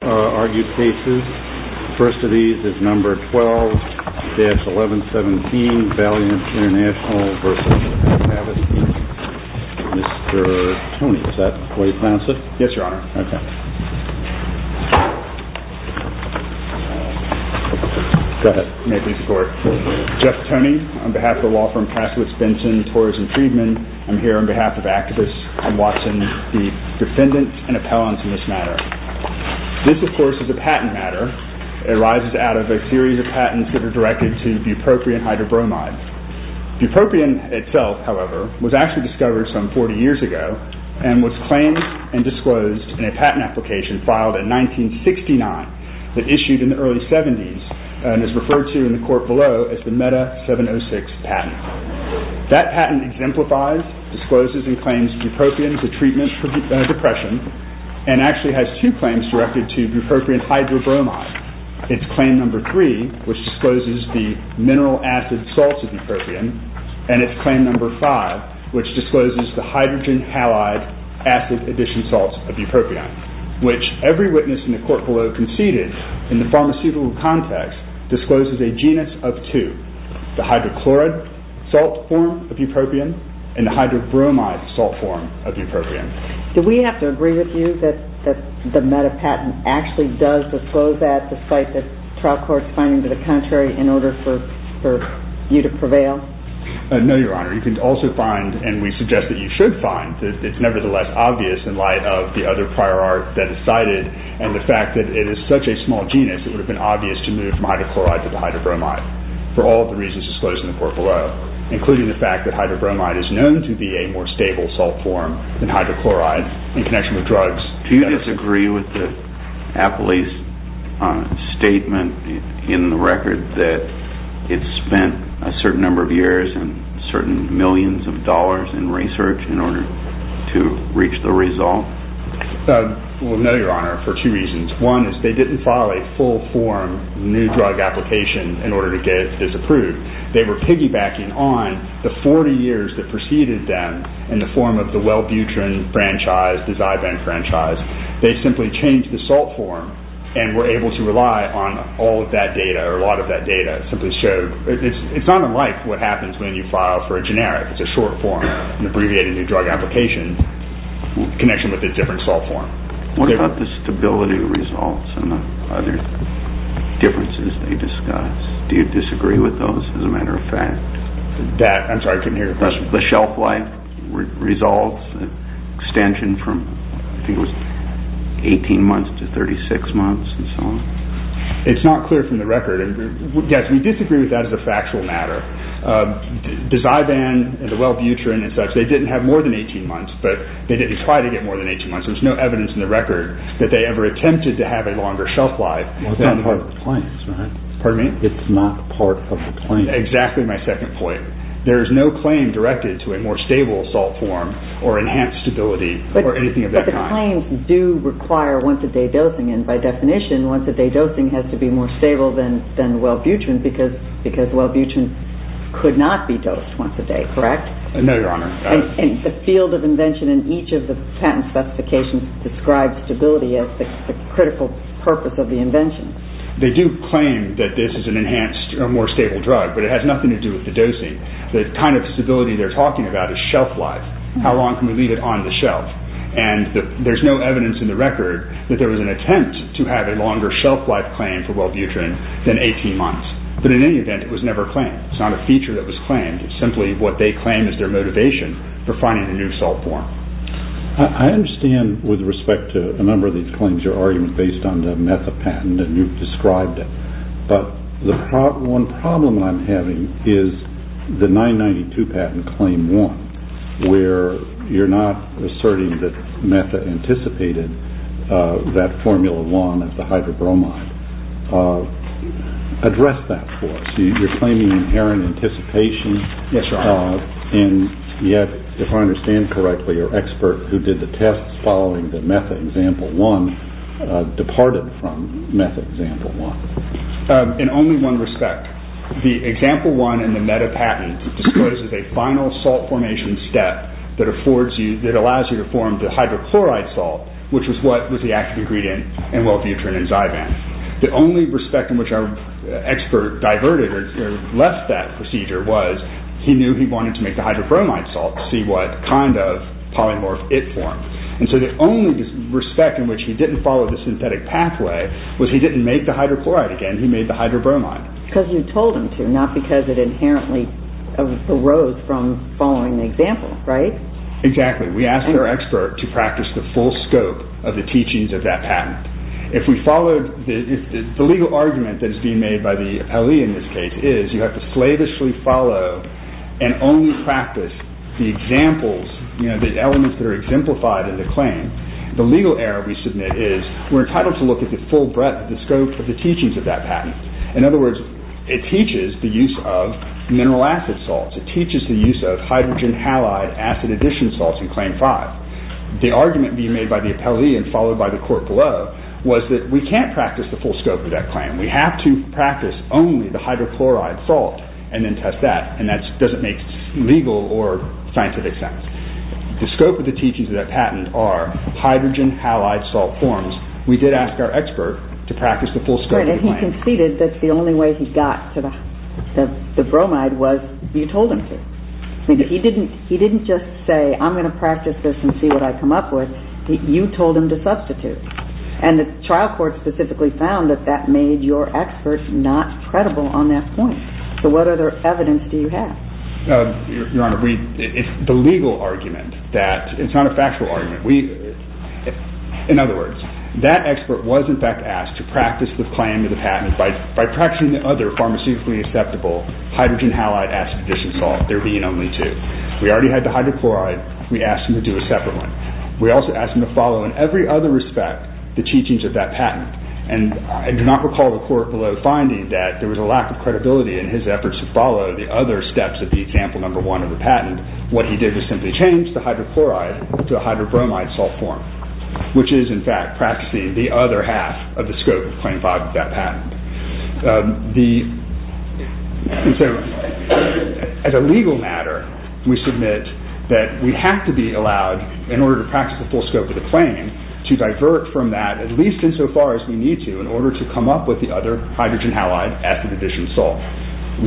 12-1117 VALLEANT INTERNATIONAL v. HAVASTI Jeff Toney, on behalf of the law firm Passowitz Benson, Torres & Friedman. I'm here on behalf of activists and Watson, the defendant and appellant in this matter. This, of course, is a patent matter. It arises out of a series of patents that are directed to bupropion hydrobromide. Bupropion itself, however, was actually discovered some 40 years ago and was claimed and disclosed in a patent application filed in 1969 that issued in the early 70s and is referred to in the court below as the MEDA 706 patent. That patent exemplifies, discloses, and claims bupropion as a treatment for depression and actually has two claims directed to bupropion hydrobromide. It's claim number three, which discloses the mineral acid salts of bupropion, and it's claim number five, which discloses the hydrogen halide acid addition salts of bupropion, which every witness in the court below conceded in the pharmaceutical context discloses a genus of two, the hydrochloride salt form of bupropion and the hydrobromide salt form of bupropion. Do we have to agree with you that the MEDA patent actually does disclose that despite the trial court's finding to the contrary in order for you to prevail? No, Your Honor. You can also find, and we suggest that you should find, that it's nevertheless obvious in light of the other prior art that is cited and the fact that it is such a small genus, it would have been obvious to move from hydrochloride to the hydrobromide for all of the reasons disclosed in the court below, including the fact that hydrobromide is known to be a more stable salt form than hydrochloride in connection with drugs. Do you disagree with the appellee's statement in the record that it spent a certain number of years and certain millions of dollars in research in order to reach the result? No, Your Honor, for two reasons. One is they didn't file a full form new drug application in order to get it disapproved. They were piggybacking on the 40 years that preceded them in the form of the Welbutrin franchise, the Zyven franchise. They simply changed the salt form and were able to rely on all of that data or a lot of that data. It's not unlike what happens when you file for a generic, it's a short form, an abbreviated new drug application in connection with a different salt form. What about the stability results and the other differences they discuss? Do you disagree with those as a matter of fact? I'm sorry, I couldn't hear your question. The shelf life results, extension from 18 months to 36 months and so on? It's not clear from the record. Yes, we disagree with that as a factual matter. The Zyven and the Welbutrin and such, they didn't have more than 18 months, but they didn't try to get more than 18 months. There's no evidence in the record that they ever attempted to have a longer shelf life. It's not part of the claims, right? Pardon me? It's not part of the claims. Exactly my second point. There is no claim directed to a more stable salt form or enhanced stability or anything of that kind. But the claims do require once-a-day dosing, and by definition once-a-day dosing has to be more stable than Welbutrin because Welbutrin could not be dosed once a day, correct? No, Your Honor. And the field of invention in each of the patent specifications describes stability as the critical purpose of the invention. They do claim that this is an enhanced or more stable drug, but it has nothing to do with the dosing. The kind of stability they're talking about is shelf life. How long can we leave it on the shelf? And there's no evidence in the record that there was an attempt to have a longer shelf life claim for Welbutrin than 18 months. But in any event, it was never claimed. It's not a feature that was claimed. It's simply what they claim is their motivation for finding a new salt form. I understand with respect to a number of these claims your argument is based on the MEFA patent, and you've described it. But one problem I'm having is the 992 patent, Claim 1, where you're not asserting that MEFA anticipated that Formula 1 of the hydrobromide. Address that for us. You're claiming inherent anticipation. Yes, Your Honor. And yet, if I understand correctly, your expert who did the tests following the MEFA Example 1 departed from MEFA Example 1. In only one respect. The Example 1 in the MEFA patent discloses a final salt formation step that allows you to form the hydrochloride salt, which was what was the active ingredient in Welbutrin and Zyban. The only respect in which our expert diverted or left that procedure was he knew he wanted to make the hydrobromide salt to see what kind of polymorph it formed. And so the only respect in which he didn't follow the synthetic pathway was he didn't make the hydrochloride again. He made the hydrobromide. Because you told him to, not because it inherently arose from following the example, right? Exactly. We asked our expert to practice the full scope of the teachings of that patent. If we followed the legal argument that is being made by the appellee in this case is you have to slavishly follow and only practice the examples, the elements that are exemplified in the claim, the legal error we submit is we're entitled to look at the full breadth, the scope of the teachings of that patent. In other words, it teaches the use of mineral acid salts. It teaches the use of hydrogen halide acid addition salts in Claim 5. The argument being made by the appellee and followed by the court below was that we can't practice the full scope of that claim. We have to practice only the hydrochloride salt and then test that. And that doesn't make legal or scientific sense. The scope of the teachings of that patent are hydrogen halide salt forms. We did ask our expert to practice the full scope of the claim. And he conceded that the only way he got to the bromide was you told him to. He didn't just say I'm going to practice this and see what I come up with. You told him to substitute. And the trial court specifically found that that made your expert not credible on that point. So what other evidence do you have? Your Honor, the legal argument that it's not a factual argument. In other words, that expert was in fact asked to practice the claim of the patent by practicing the other pharmaceutically acceptable hydrogen halide acid addition salt, there being only two. We already had the hydrochloride. We asked him to do a separate one. We also asked him to follow in every other respect the teachings of that patent. And I do not recall the court below finding that there was a lack of credibility in his efforts to follow the other steps of the example number one of the patent. What he did was simply change the hydrochloride to a hydrobromide salt form, which is in fact practicing the other half of the scope of Claim 5 of that patent. As a legal matter, we submit that we have to be allowed, in order to practice the full scope of the claim, to divert from that at least insofar as we need to in order to come up with the other hydrogen halide acid addition salt.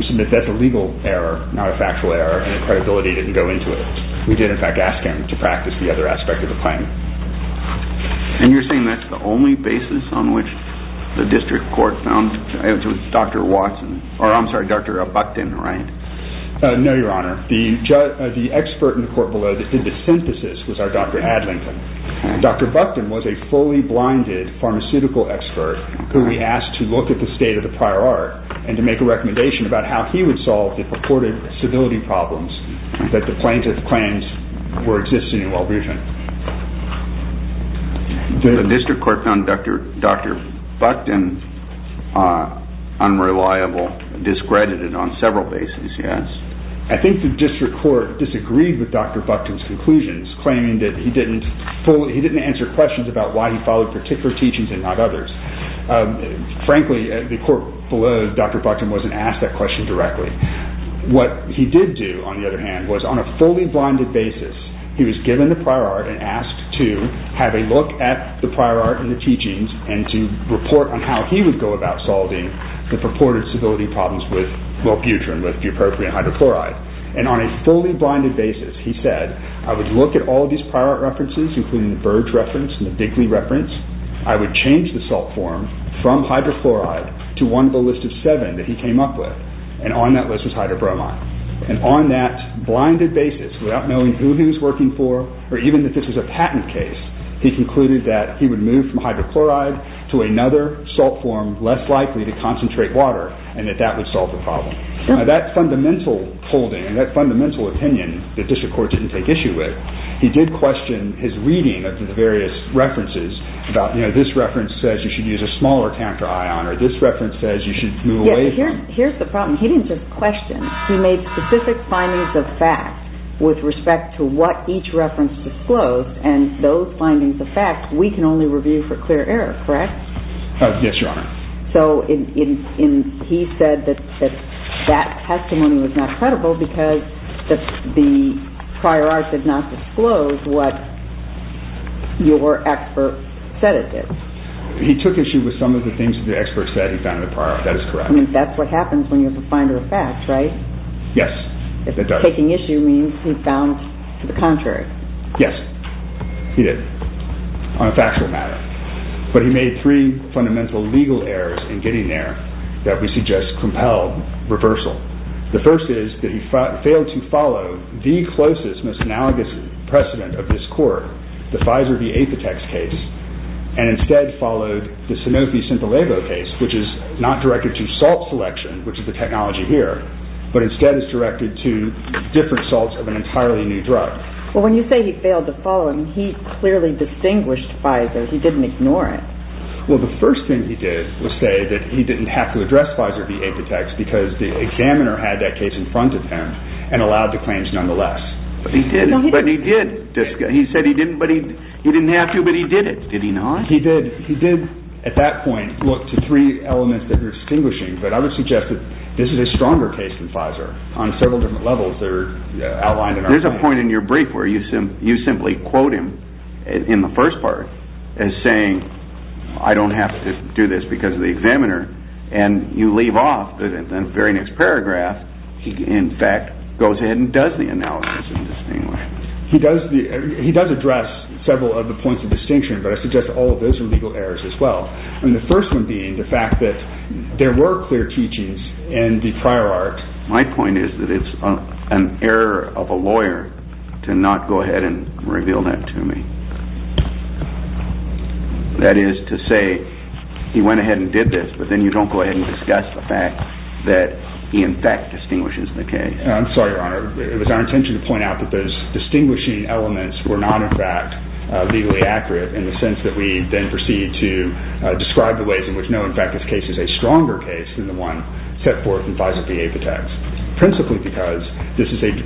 We submit that's a legal error, not a factual error, and the credibility didn't go into it. We did in fact ask him to practice the other aspect of the claim. And you're saying that's the only basis on which the district court found Dr. Watson, or I'm sorry, Dr. Buckton, right? No, Your Honor. The expert in the court below that did the synthesis was our Dr. Adlington. Dr. Buckton was a fully blinded pharmaceutical expert who we asked to look at the state of the prior art and to make a recommendation about how he would solve the purported civility problems that the plaintiff claims were existing in Walgreens. The district court found Dr. Buckton unreliable, discredited on several bases, yes? I think the district court disagreed with Dr. Buckton's conclusions, claiming that he didn't answer questions about why he followed particular teachings and not others. Frankly, the court below Dr. Buckton wasn't asked that question directly. What he did do, on the other hand, was on a fully blinded basis, he was given the prior art and asked to have a look at the prior art and the teachings and to report on how he would go about solving the purported civility problems with bupropion, with bupropion hydrochloride. And on a fully blinded basis, he said, I would look at all these prior art references, including the Burge reference and the Digley reference, I would change the salt form from hydrochloride to one of a list of seven that he came up with. And on that list was hydrobromine. And on that blinded basis, without knowing who he was working for, or even if this was a patent case, he concluded that he would move from hydrochloride to another salt form less likely to concentrate water and that that would solve the problem. Now, that fundamental holding, that fundamental opinion, the district court didn't take issue with, he did question his reading of the various references about, you know, this reference says you should use a smaller camphor ion, or this reference says you should move away from it. Here's the problem. He didn't just question. He made specific findings of fact with respect to what each reference disclosed, and those findings of fact we can only review for clear error, correct? Yes, Your Honor. So he said that that testimony was not credible because the prior art did not disclose what your expert said it did. He took issue with some of the things that the expert said he found in the prior art. That is correct. I mean, that's what happens when you have a finder of fact, right? Yes, it does. If taking issue means he found the contrary. Yes, he did, on a factual matter. But he made three fundamental legal errors in getting there that we suggest compelled reversal. The first is that he failed to follow the closest, most analogous precedent of this court, the Pfizer v. Aphitex case, and instead followed the Sanofi-Sintolevo case, which is not directed to salt selection, which is the technology here, but instead is directed to different salts of an entirely new drug. Well, when you say he failed to follow, he clearly distinguished Pfizer. He didn't ignore it. Well, the first thing he did was say that he didn't have to address Pfizer v. Aphitex because the examiner had that case in front of him and allowed the claims nonetheless. But he did. He said he didn't have to, but he did it. Did he not? He did, at that point, look to three elements that you're distinguishing, but I would suggest that this is a stronger case than Pfizer on several different levels that are outlined. There's a point in your brief where you simply quote him in the first part as saying, I don't have to do this because of the examiner, and you leave off the very next paragraph. He, in fact, goes ahead and does the analysis and distinguishes. He does address several of the points of distinction, but I suggest all of those are legal errors as well, and the first one being the fact that there were clear teachings in the prior art. My point is that it's an error of a lawyer to not go ahead and reveal that to me. That is to say, he went ahead and did this, but then you don't go ahead and discuss the fact that he, in fact, distinguishes the case. I'm sorry, Your Honor. It was our intention to point out that those distinguishing elements were not, in fact, legally accurate in the sense that we then proceed to describe the ways in which, no, in fact, this case is a stronger case than the one set forth in Pfizer v. Apotex, principally because this is an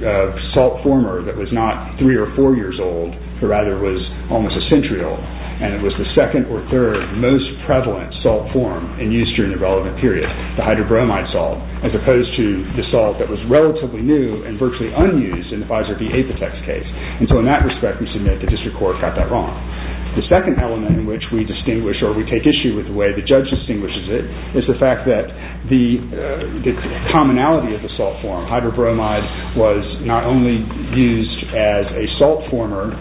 assault former that was not three or four years old, but rather was almost a century old, and it was the second or third most prevalent salt form in use during the relevant period, the hydrobromide salt, as opposed to the salt that was relatively new and virtually unused in the Pfizer v. Apotex case, and so in that respect, we submit the district court got that wrong. The second element in which we distinguish or we take issue with the way the judge distinguishes it is the fact that the commonality of the salt form, hydrobromide, was not only used as a salt former,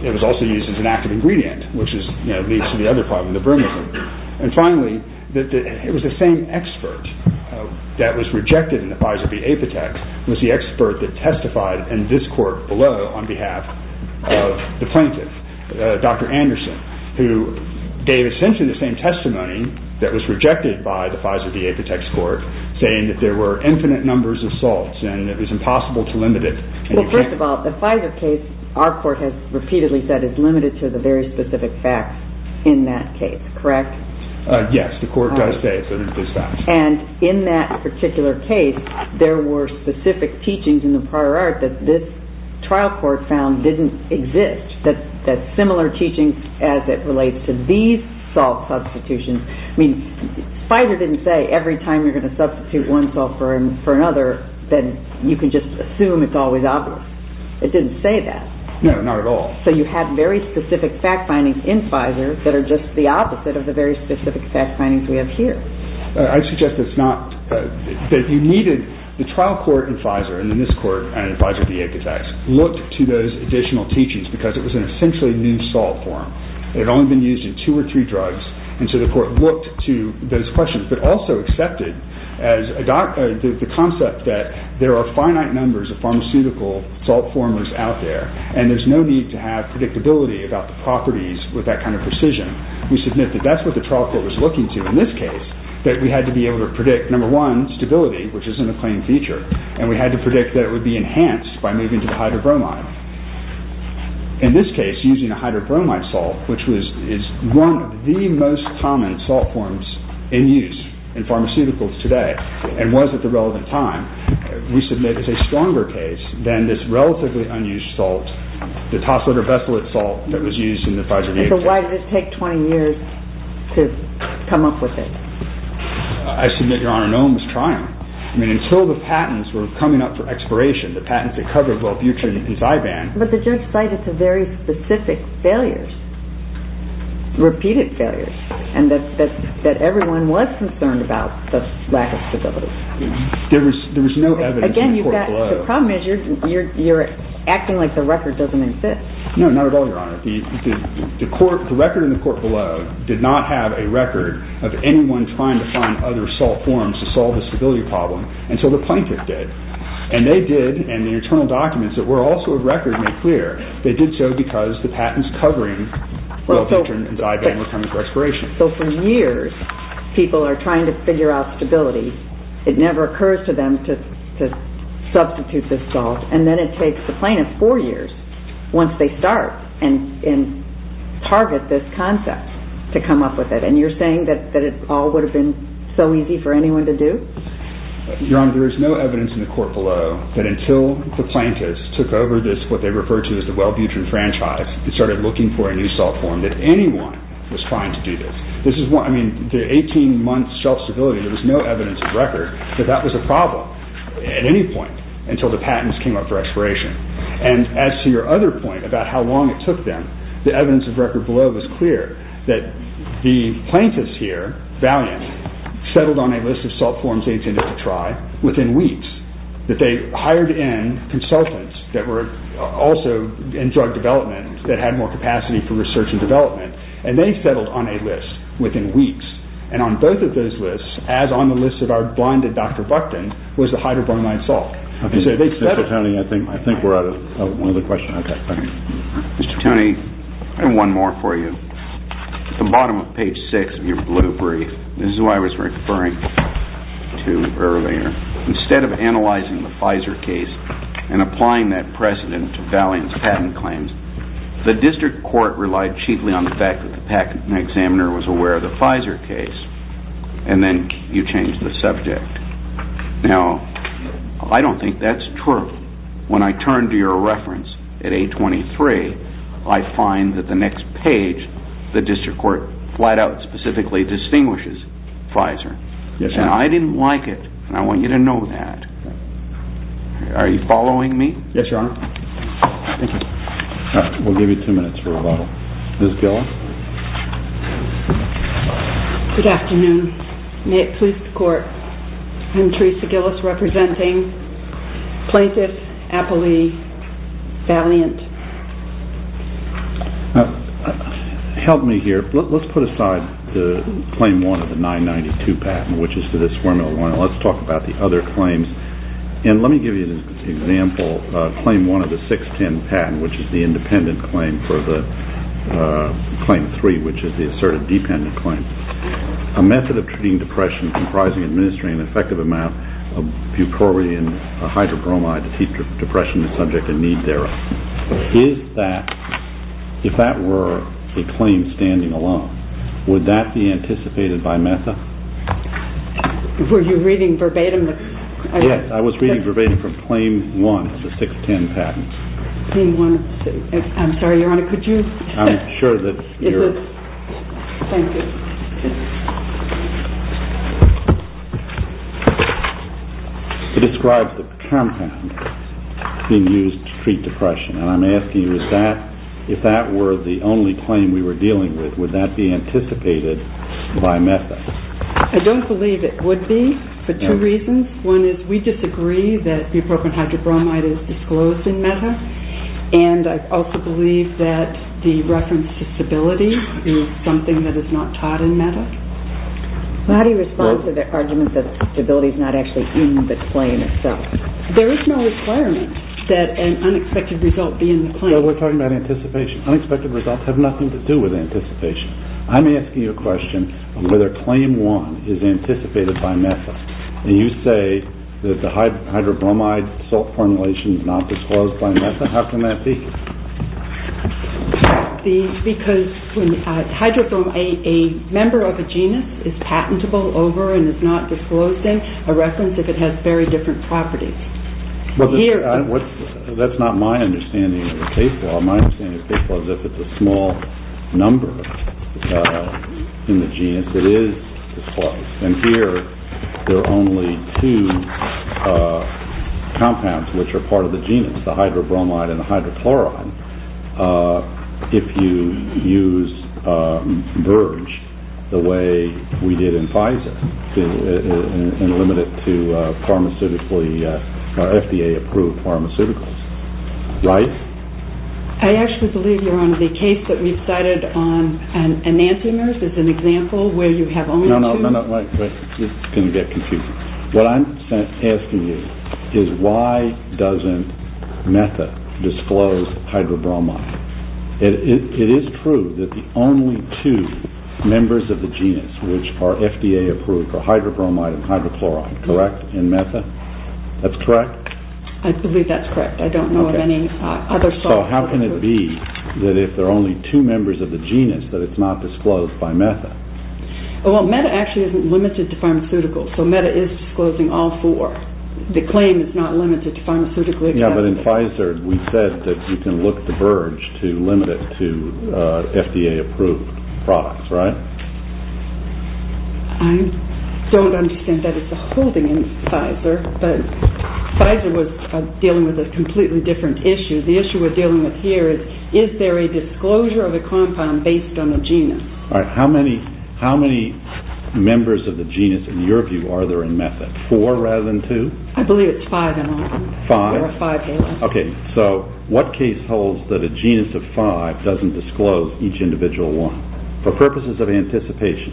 it was also used as an active ingredient, which leads to the other problem, the bromide. And finally, it was the same expert that was rejected in the Pfizer v. Apotex, it was the expert that testified in this court below on behalf of the plaintiff, Dr. Anderson, who gave essentially the same testimony that was rejected by the Pfizer v. Apotex court, saying that there were infinite numbers of salts and it was impossible to limit it. Well, first of all, the Pfizer case, our court has repeatedly said, is limited to the very specific facts in that case, correct? Yes, the court does say that it is facts. And in that particular case, there were specific teachings in the prior art that this trial court found didn't exist, that similar teachings as it relates to these salt substitutions. I mean, Pfizer didn't say every time you're going to substitute one salt for another, then you can just assume it's always obvious. It didn't say that. No, not at all. So you have very specific fact findings in Pfizer that are just the opposite of the very specific fact findings we have here. I suggest it's not, that you needed, the trial court in Pfizer, in this court and in Pfizer v. Apotex, looked to those additional teachings because it was an essentially new salt form. It had only been used in two or three drugs, and so the court looked to those questions, but also accepted the concept that there are finite numbers of pharmaceutical salt formers out there, and there's no need to have predictability about the properties with that kind of precision. We submitted, that's what the trial court was looking to in this case, that we had to be able to predict, number one, stability, which is an acclaimed feature, and we had to predict that it would be enhanced by moving to the hydrobromide. In this case, using a hydrobromide salt, which is one of the most common salt forms in use in pharmaceuticals today, and was at the relevant time, we submitted as a stronger case than this relatively unused salt, the topsoil or bestialate salt that was used in the Pfizer v. Apotex. So why did it take 20 years to come up with it? I submit, Your Honor, no one was trying. I mean, until the patents were coming up for expiration, the patents that covered Wellbutrin and Zyban. But the judge cited some very specific failures, repeated failures, and that everyone was concerned about the lack of stability. There was no evidence in the court below. Again, the problem is you're acting like the record doesn't exist. No, not at all, Your Honor. The record in the court below did not have a record of anyone trying to find other salt forms to solve the stability problem, and so the plaintiff did. And they did, and the internal documents that were also a record made clear, they did so because the patents covering Wellbutrin and Zyban were coming for expiration. So for years, people are trying to figure out stability. It never occurs to them to substitute this salt, and then it takes the plaintiff four years once they start and target this concept to come up with it, and you're saying that it all would have been so easy for anyone to do? Your Honor, there is no evidence in the court below that until the plaintiffs took over what they refer to as the Wellbutrin franchise and started looking for a new salt form that anyone was trying to do this. I mean, the 18-month shelf stability, there was no evidence of record that that was a problem at any point until the patents came up for expiration. And as to your other point about how long it took them, the evidence of record below was clear that the plaintiffs here, Valiant, settled on a list of salt forms they tended to try within weeks, that they hired in consultants that were also in drug development that had more capacity for research and development, and they settled on a list within weeks. And on both of those lists, as on the list of our blinded Dr. Buckton, was the hydrobromide salt. Mr. Tony, I think we're out of time. Mr. Tony, I have one more for you. At the bottom of page six of your blue brief, this is what I was referring to earlier, instead of analyzing the Pfizer case and applying that precedent to Valiant's patent claims, the district court relied chiefly on the fact that the patent examiner was aware of the Pfizer case, and then you changed the subject. Now, I don't think that's true. When I turned to your reference at 823, I find that the next page, the district court flat out specifically distinguishes Pfizer. And I didn't like it, and I want you to know that. Are you following me? Yes, Your Honor. Thank you. We'll give you two minutes for rebuttal. Ms. Gillis? Good afternoon. May it please the court, I'm Teresa Gillis, representing plaintiff Apolli Valiant. Help me here. Let's put aside the claim one of the 992 patent, which is to this formula one, and let's talk about the other claims. And let me give you an example, claim one of the 610 patent, which is the independent claim for the claim three, which is the asserted dependent claim. A method of treating depression comprising administering an effective amount of bupropion, a hydrobromide, to keep depression the subject of need thereof. If that were a claim standing alone, would that be anticipated by MESA? Were you reading verbatim? Yes, I was reading verbatim from claim one of the 610 patent. I'm sorry, Your Honor, could you? I'm sure that you're... Thank you. It describes the compound being used to treat depression, and I'm asking you if that were the only claim we were dealing with, would that be anticipated by MESA? I don't believe it would be for two reasons. One is we disagree that bupropion hydrobromide is disclosed in MESA, and I also believe that the reference to stability is something that is not taught in MESA. How do you respond to the argument that stability is not actually in the claim itself? There is no requirement that an unexpected result be in the claim. No, we're talking about anticipation. Unexpected results have nothing to do with anticipation. I'm asking you a question of whether claim one is anticipated by MESA. And you say that the hydrobromide salt formulation is not disclosed by MESA. How can that be? Because hydrobromide, a member of a genus is patentable over and is not disclosing a reference if it has very different properties. That's not my understanding of the case law. My understanding of the case law is if it's a small number in the genus, it is disclosed. And here there are only two compounds which are part of the genus, the hydrobromide and the hydrochloride, if you use VERGE the way we did in Pfizer and limit it to pharmaceutically, FDA-approved pharmaceuticals, right? I actually believe, Your Honor, the case that we've cited on enantiomers is an example where you have only two. No, no, wait. This is going to get confusing. What I'm asking you is why doesn't MESA disclose hydrobromide? It is true that the only two members of the genus which are FDA-approved are hydrobromide and hydrochloride, correct, in MESA? That's correct? I believe that's correct. I don't know of any other salts. So how can it be that if there are only two members of the genus that it's not disclosed by MESA? Well, MESA actually isn't limited to pharmaceuticals, so MESA is disclosing all four. The claim is not limited to pharmaceutically accepted. Yeah, but in Pfizer we said that you can look to VERGE to limit it to FDA-approved products, right? I don't understand that it's a holding in Pfizer, but Pfizer was dealing with a completely different issue. The issue we're dealing with here is, is there a disclosure of a compound based on the genus? All right, how many members of the genus, in your view, are there in MESA? Four rather than two? I believe it's five in all. Five? There are five members. Okay, so what case holds that a genus of five doesn't disclose each individual one for purposes of anticipation?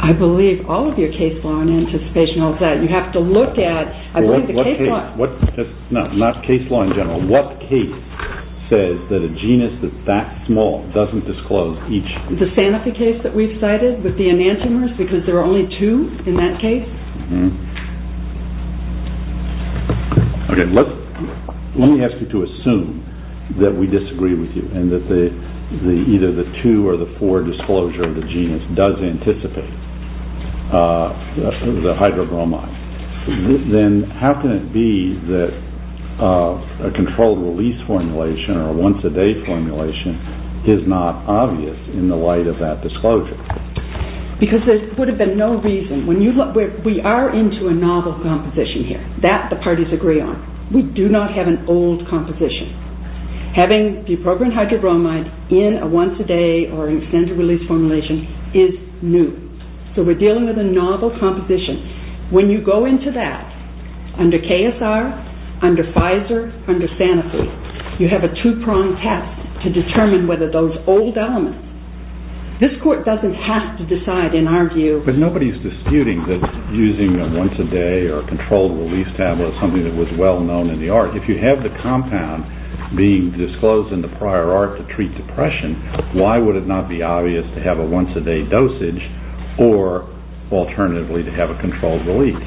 I believe all of your case law and anticipation holds that. You have to look at, I believe the case law. No, not case law in general. What case says that a genus that's that small doesn't disclose each? The Sanofi case that we've cited with the enantiomers, because there are only two in that case? Okay, let me ask you to assume that we disagree with you and that either the two or the four disclosure of the genus does anticipate the hydrobromide. Then how can it be that a controlled release formulation or a once-a-day formulation is not obvious in the light of that disclosure? Because there would have been no reason. We are into a novel composition here. That the parties agree on. We do not have an old composition. Having the appropriate hydrobromide in a once-a-day or an extended release formulation is new. So we're dealing with a novel composition. When you go into that, under KSR, under Pfizer, under Sanofi, you have a two-pronged test to determine whether those old elements. This court doesn't have to decide, in our view. But nobody's disputing that using a once-a-day or a controlled release tablet is something that was well known in the art. If you have the compound being disclosed in the prior art to treat depression, why would it not be obvious to have a once-a-day dosage or alternatively to have a controlled release?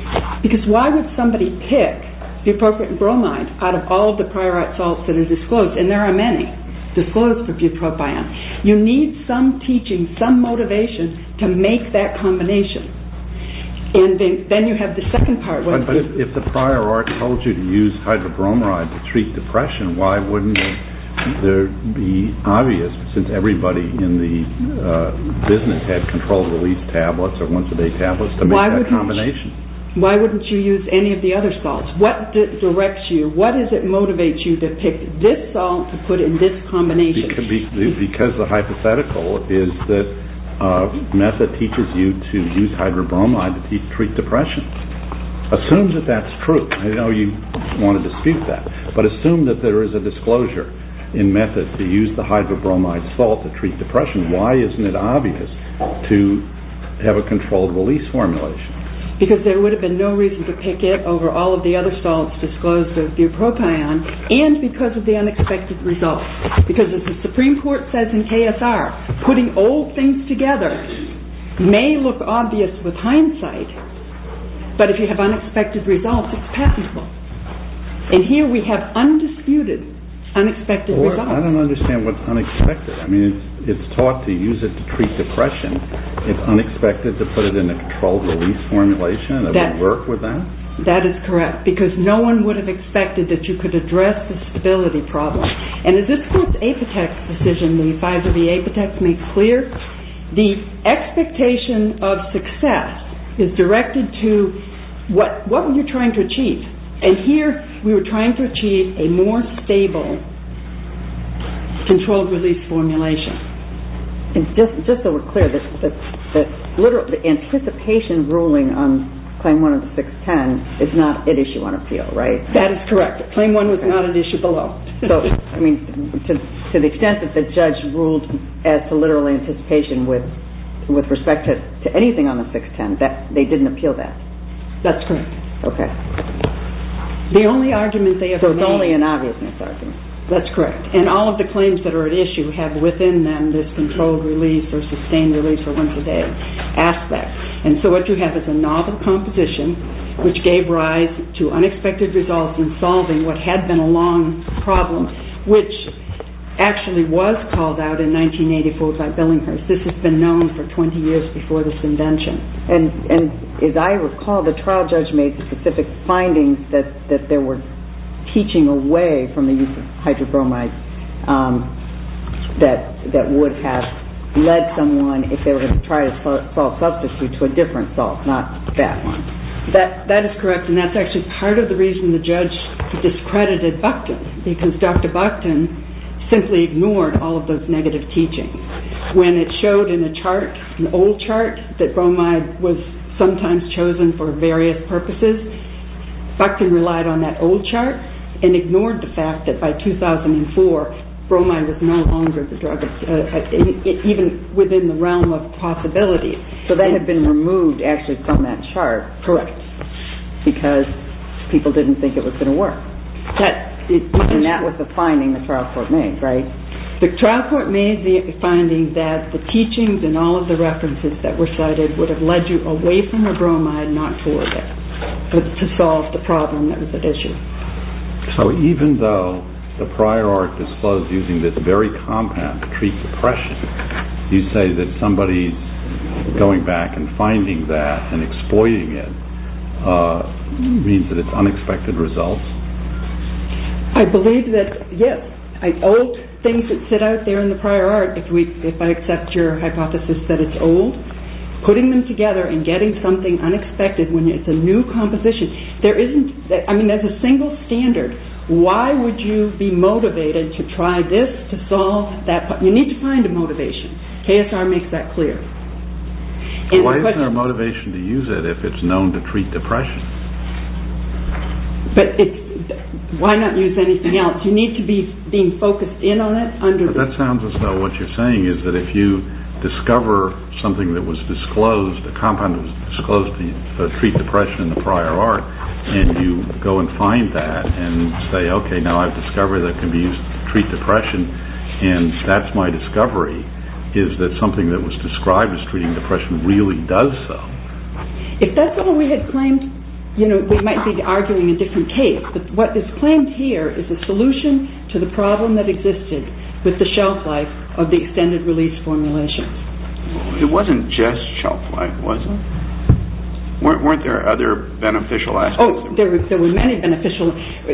Because why would somebody pick the appropriate bromide out of all the prior art salts that are disclosed? And there are many disclosed for bupropion. You need some teaching, some motivation to make that combination. And then you have the second part. But if the prior art told you to use hydrobromide to treat depression, why wouldn't it be obvious, since everybody in the business had controlled release tablets or once-a-day tablets, to make that combination? Why wouldn't you use any of the other salts? What directs you? What does it motivate you to pick this salt to put in this combination? Because the hypothetical is that method teaches you to use hydrobromide to treat depression. Assume that that's true. I know you want to dispute that. But assume that there is a disclosure in method to use the hydrobromide salt to treat depression. Why isn't it obvious to have a controlled release formulation? Because there would have been no reason to pick it over all of the other salts disclosed of bupropion and because of the unexpected results. Because as the Supreme Court says in KSR, putting old things together may look obvious with hindsight, but if you have unexpected results, it's passable. And here we have undisputed, unexpected results. Well, I don't understand what's unexpected. I mean, it's taught to use it to treat depression. It's unexpected to put it in a controlled release formulation? Does it work with that? That is correct, because no one would have expected that you could address the stability problem. And as this Court's Apotex decision, the advisory Apotex, makes clear, the expectation of success is directed to what were you trying to achieve? And here we were trying to achieve a more stable controlled release formulation. Just so we're clear, the anticipation ruling on Claim 1 of the 610 is not at issue on appeal, right? That is correct. Claim 1 was not at issue below. So, I mean, to the extent that the judge ruled as to literal anticipation with respect to anything on the 610, they didn't appeal that? That's correct. Okay. So it's only an obviousness argument. That's correct. And all of the claims that are at issue have within them this controlled release or sustained release or winter day aspect. And so what you have is a novel composition, which gave rise to unexpected results in solving what had been a long problem, which actually was called out in 1984 by Billinghurst. This has been known for 20 years before this invention. And as I recall, the trial judge made specific findings that there were teaching away from the use of hydrobromides that would have led someone, if they were going to try to solve substitute to a different salt, not that one. That is correct. And that's actually part of the reason the judge discredited Buckton because Dr. Buckton simply ignored all of those negative teachings. When it showed in a chart, an old chart, that bromide was sometimes chosen for various purposes, Buckton relied on that old chart and ignored the fact that by 2004, bromide was no longer the drug, even within the realm of possibility. So that had been removed actually from that chart. Correct. Because people didn't think it was going to work. And that was the finding the trial court made, right? The trial court made the finding that the teachings and all of the references that were cited would have led you away from the bromide, not toward it, to solve the problem that was at issue. So even though the prior art disclosed using this very compound to treat depression, you say that somebody going back and finding that and exploiting it means that it's unexpected results? I believe that yes. Old things that sit out there in the prior art, if I accept your hypothesis that it's old, putting them together and getting something unexpected when it's a new composition. There isn't, I mean as a single standard, why would you be motivated to try this to solve that? You need to find a motivation. KSR makes that clear. Why isn't there motivation to use it if it's known to treat depression? But why not use anything else? You need to be being focused in on it. That sounds as though what you're saying is that if you discover something that was disclosed, a compound that was disclosed to treat depression in the prior art, and you go and find that and say, okay, now I've discovered that it can be used to treat depression and that's my discovery, is that something that was described as treating depression really does so. If that's all we had claimed, we might be arguing a different case. What is claimed here is a solution to the problem that existed with the shelf life of the extended release formulation. It wasn't just shelf life, was it? Weren't there other beneficial aspects? Oh, there were many beneficial.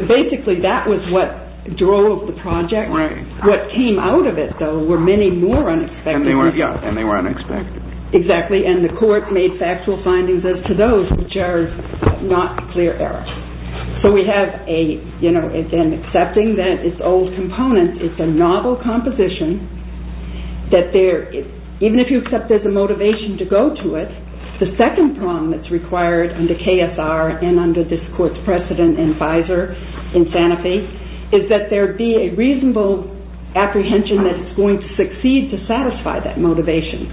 Basically that was what drove the project. What came out of it, though, were many more unexpected. And they were unexpected. Exactly. And the court made factual findings as to those which are not clear errors. So we have an accepting that it's old components, it's a novel composition, that even if you accept there's a motivation to go to it, the second problem that's required under KSR and under this court's precedent in Pfizer, in Sanofi, is that there be a reasonable apprehension that it's going to succeed to satisfy that motivation.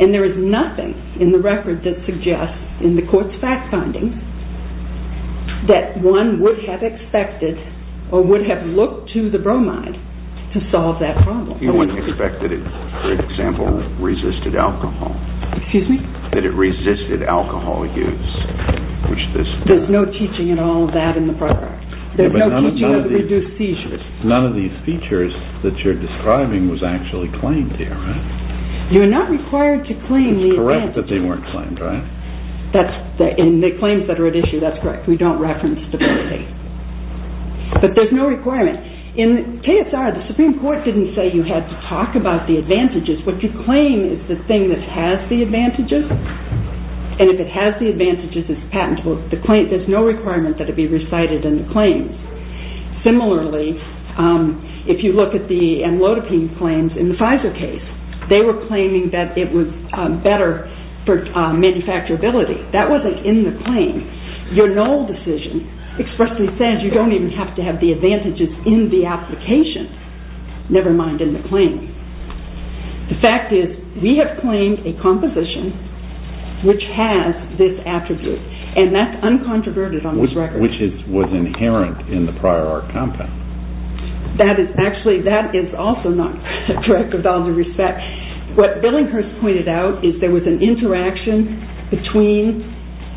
And there is nothing in the record that suggests, in the court's fact findings, that one would have expected or would have looked to the bromide to solve that problem. You wouldn't expect that it, for example, resisted alcohol. Excuse me? That it resisted alcohol use. There's no teaching at all of that in the program. There's no teaching on the reduced seizures. None of these features that you're describing was actually claimed here, right? You're not required to claim the advantages. It's correct that they weren't claimed, right? In the claims that are at issue, that's correct. We don't reference stability. But there's no requirement. In KSR, the Supreme Court didn't say you had to talk about the advantages. What you claim is the thing that has the advantages. And if it has the advantages, it's patentable. There's no requirement that it be recited in the claims. Similarly, if you look at the amlodipine claims in the Pfizer case, they were claiming that it was better for manufacturability. That wasn't in the claim. Your null decision expressly says you don't even have to have the advantages in the application, never mind in the claim. The fact is we have claimed a composition which has this attribute, and that's uncontroverted on this record. Which was inherent in the prior art compound. Actually, that is also not correct with all due respect. What Billinghurst pointed out is there was an interaction between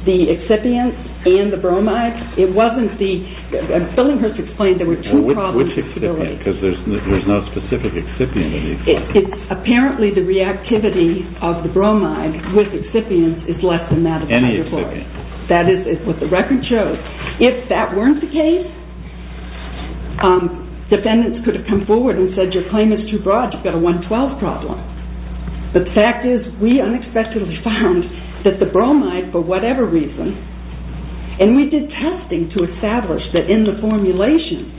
the excipient and the bromide. It wasn't the – Billinghurst explained there were two problems. Which excipient? Because there's no specific excipient in these claims. Apparently, the reactivity of the bromide with excipients is less than that of the hydrochloric. Any excipient. That is what the record shows. If that weren't the case, defendants could have come forward and said your claim is too broad, you've got a 112 problem. But the fact is we unexpectedly found that the bromide, for whatever reason, and we did testing to establish that in the formulation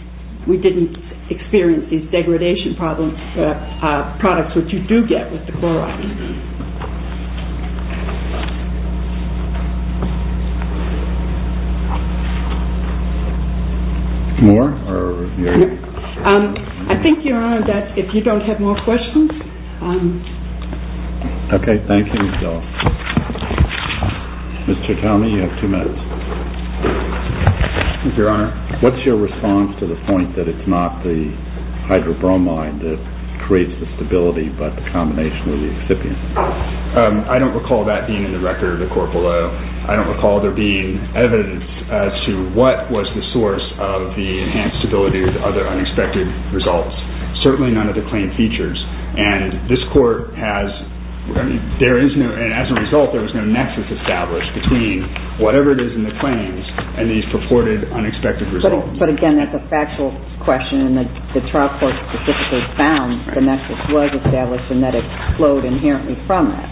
we didn't experience these degradation problems, products which you do get with the chloride. More? I think, Your Honor, that if you don't have more questions. Okay, thank you. Mr. Chikami, you have two minutes. Thank you, Your Honor. What's your response to the point that it's not the hydrobromide that creates the stability but the combination of the excipient? I don't recall that being in the record, the corporeal. I don't recall there being evidence as to what was the source of the enhanced stability of the other unexpected results. Certainly none of the claim features. And this court has, I mean, there is no, and as a result there was no nexus established between whatever it is in the claims and these purported unexpected results. But again, that's a factual question, and the trial court specifically found the nexus was established and that it flowed inherently from that.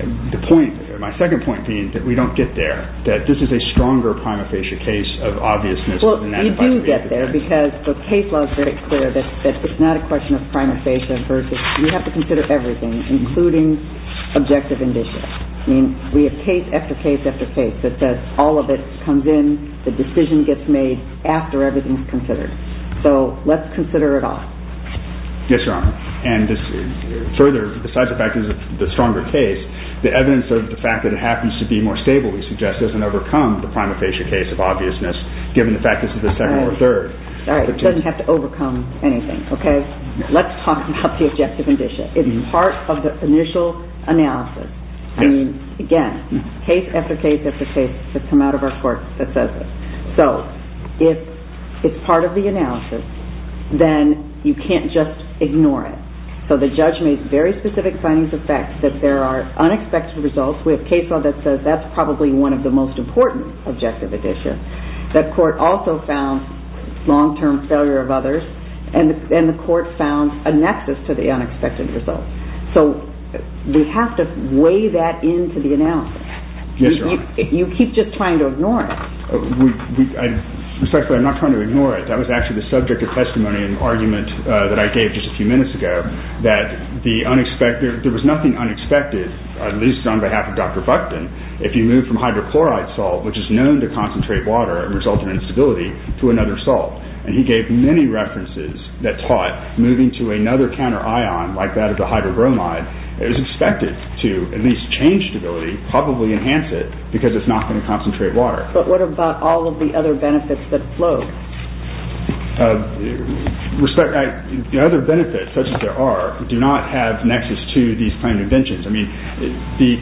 The point, my second point being that we don't get there, that this is a stronger prima facie case of obviousness. Well, you do get there because the case law is very clear that it's not a question of prima facie versus, you have to consider everything, including objective indicia. I mean, we have case after case after case that says all of it comes in, the decision gets made after everything is considered. So let's consider it all. Yes, Your Honor. And further, besides the fact that this is the stronger case, the evidence of the fact that it happens to be more stable, we suggest, doesn't overcome the prima facie case of obviousness, given the fact that this is the second or third. All right, it doesn't have to overcome anything, okay? Let's talk about the objective indicia. It's part of the initial analysis. I mean, again, case after case after case that come out of our court that says this. So if it's part of the analysis, then you can't just ignore it. So the judge made very specific findings of fact that there are unexpected results. We have case law that says that's probably one of the most important objective indicia. The court also found long-term failure of others, and the court found a nexus to the unexpected results. So we have to weigh that into the analysis. Yes, Your Honor. You keep just trying to ignore it. Respectfully, I'm not trying to ignore it. That was actually the subject of testimony in an argument that I gave just a few minutes ago that there was nothing unexpected, at least on behalf of Dr. Buckton, if you move from hydrochloride salt, which is known to concentrate water and result in instability, to another salt. And he gave many references that taught moving to another counter ion like that of the hydrobromide, it was expected to at least change stability, probably enhance it, because it's not going to concentrate water. But what about all of the other benefits that flow? The other benefits, such as there are, do not have nexus to these claimed inventions. I mean,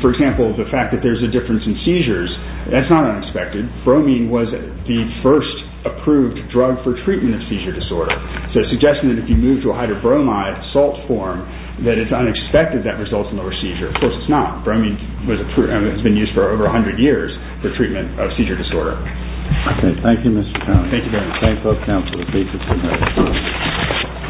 for example, the fact that there's a difference in seizures, that's not unexpected. Bromine was the first approved drug for treatment of seizure disorder. So suggesting that if you move to a hydrobromide salt form, that it's unexpected that results in lower seizure. Of course, it's not. Bromine has been used for over 100 years for treatment of seizure disorder. Okay. Thank you, Mr. Townsend. Thank you very much. Thanks, Dr. Townsend.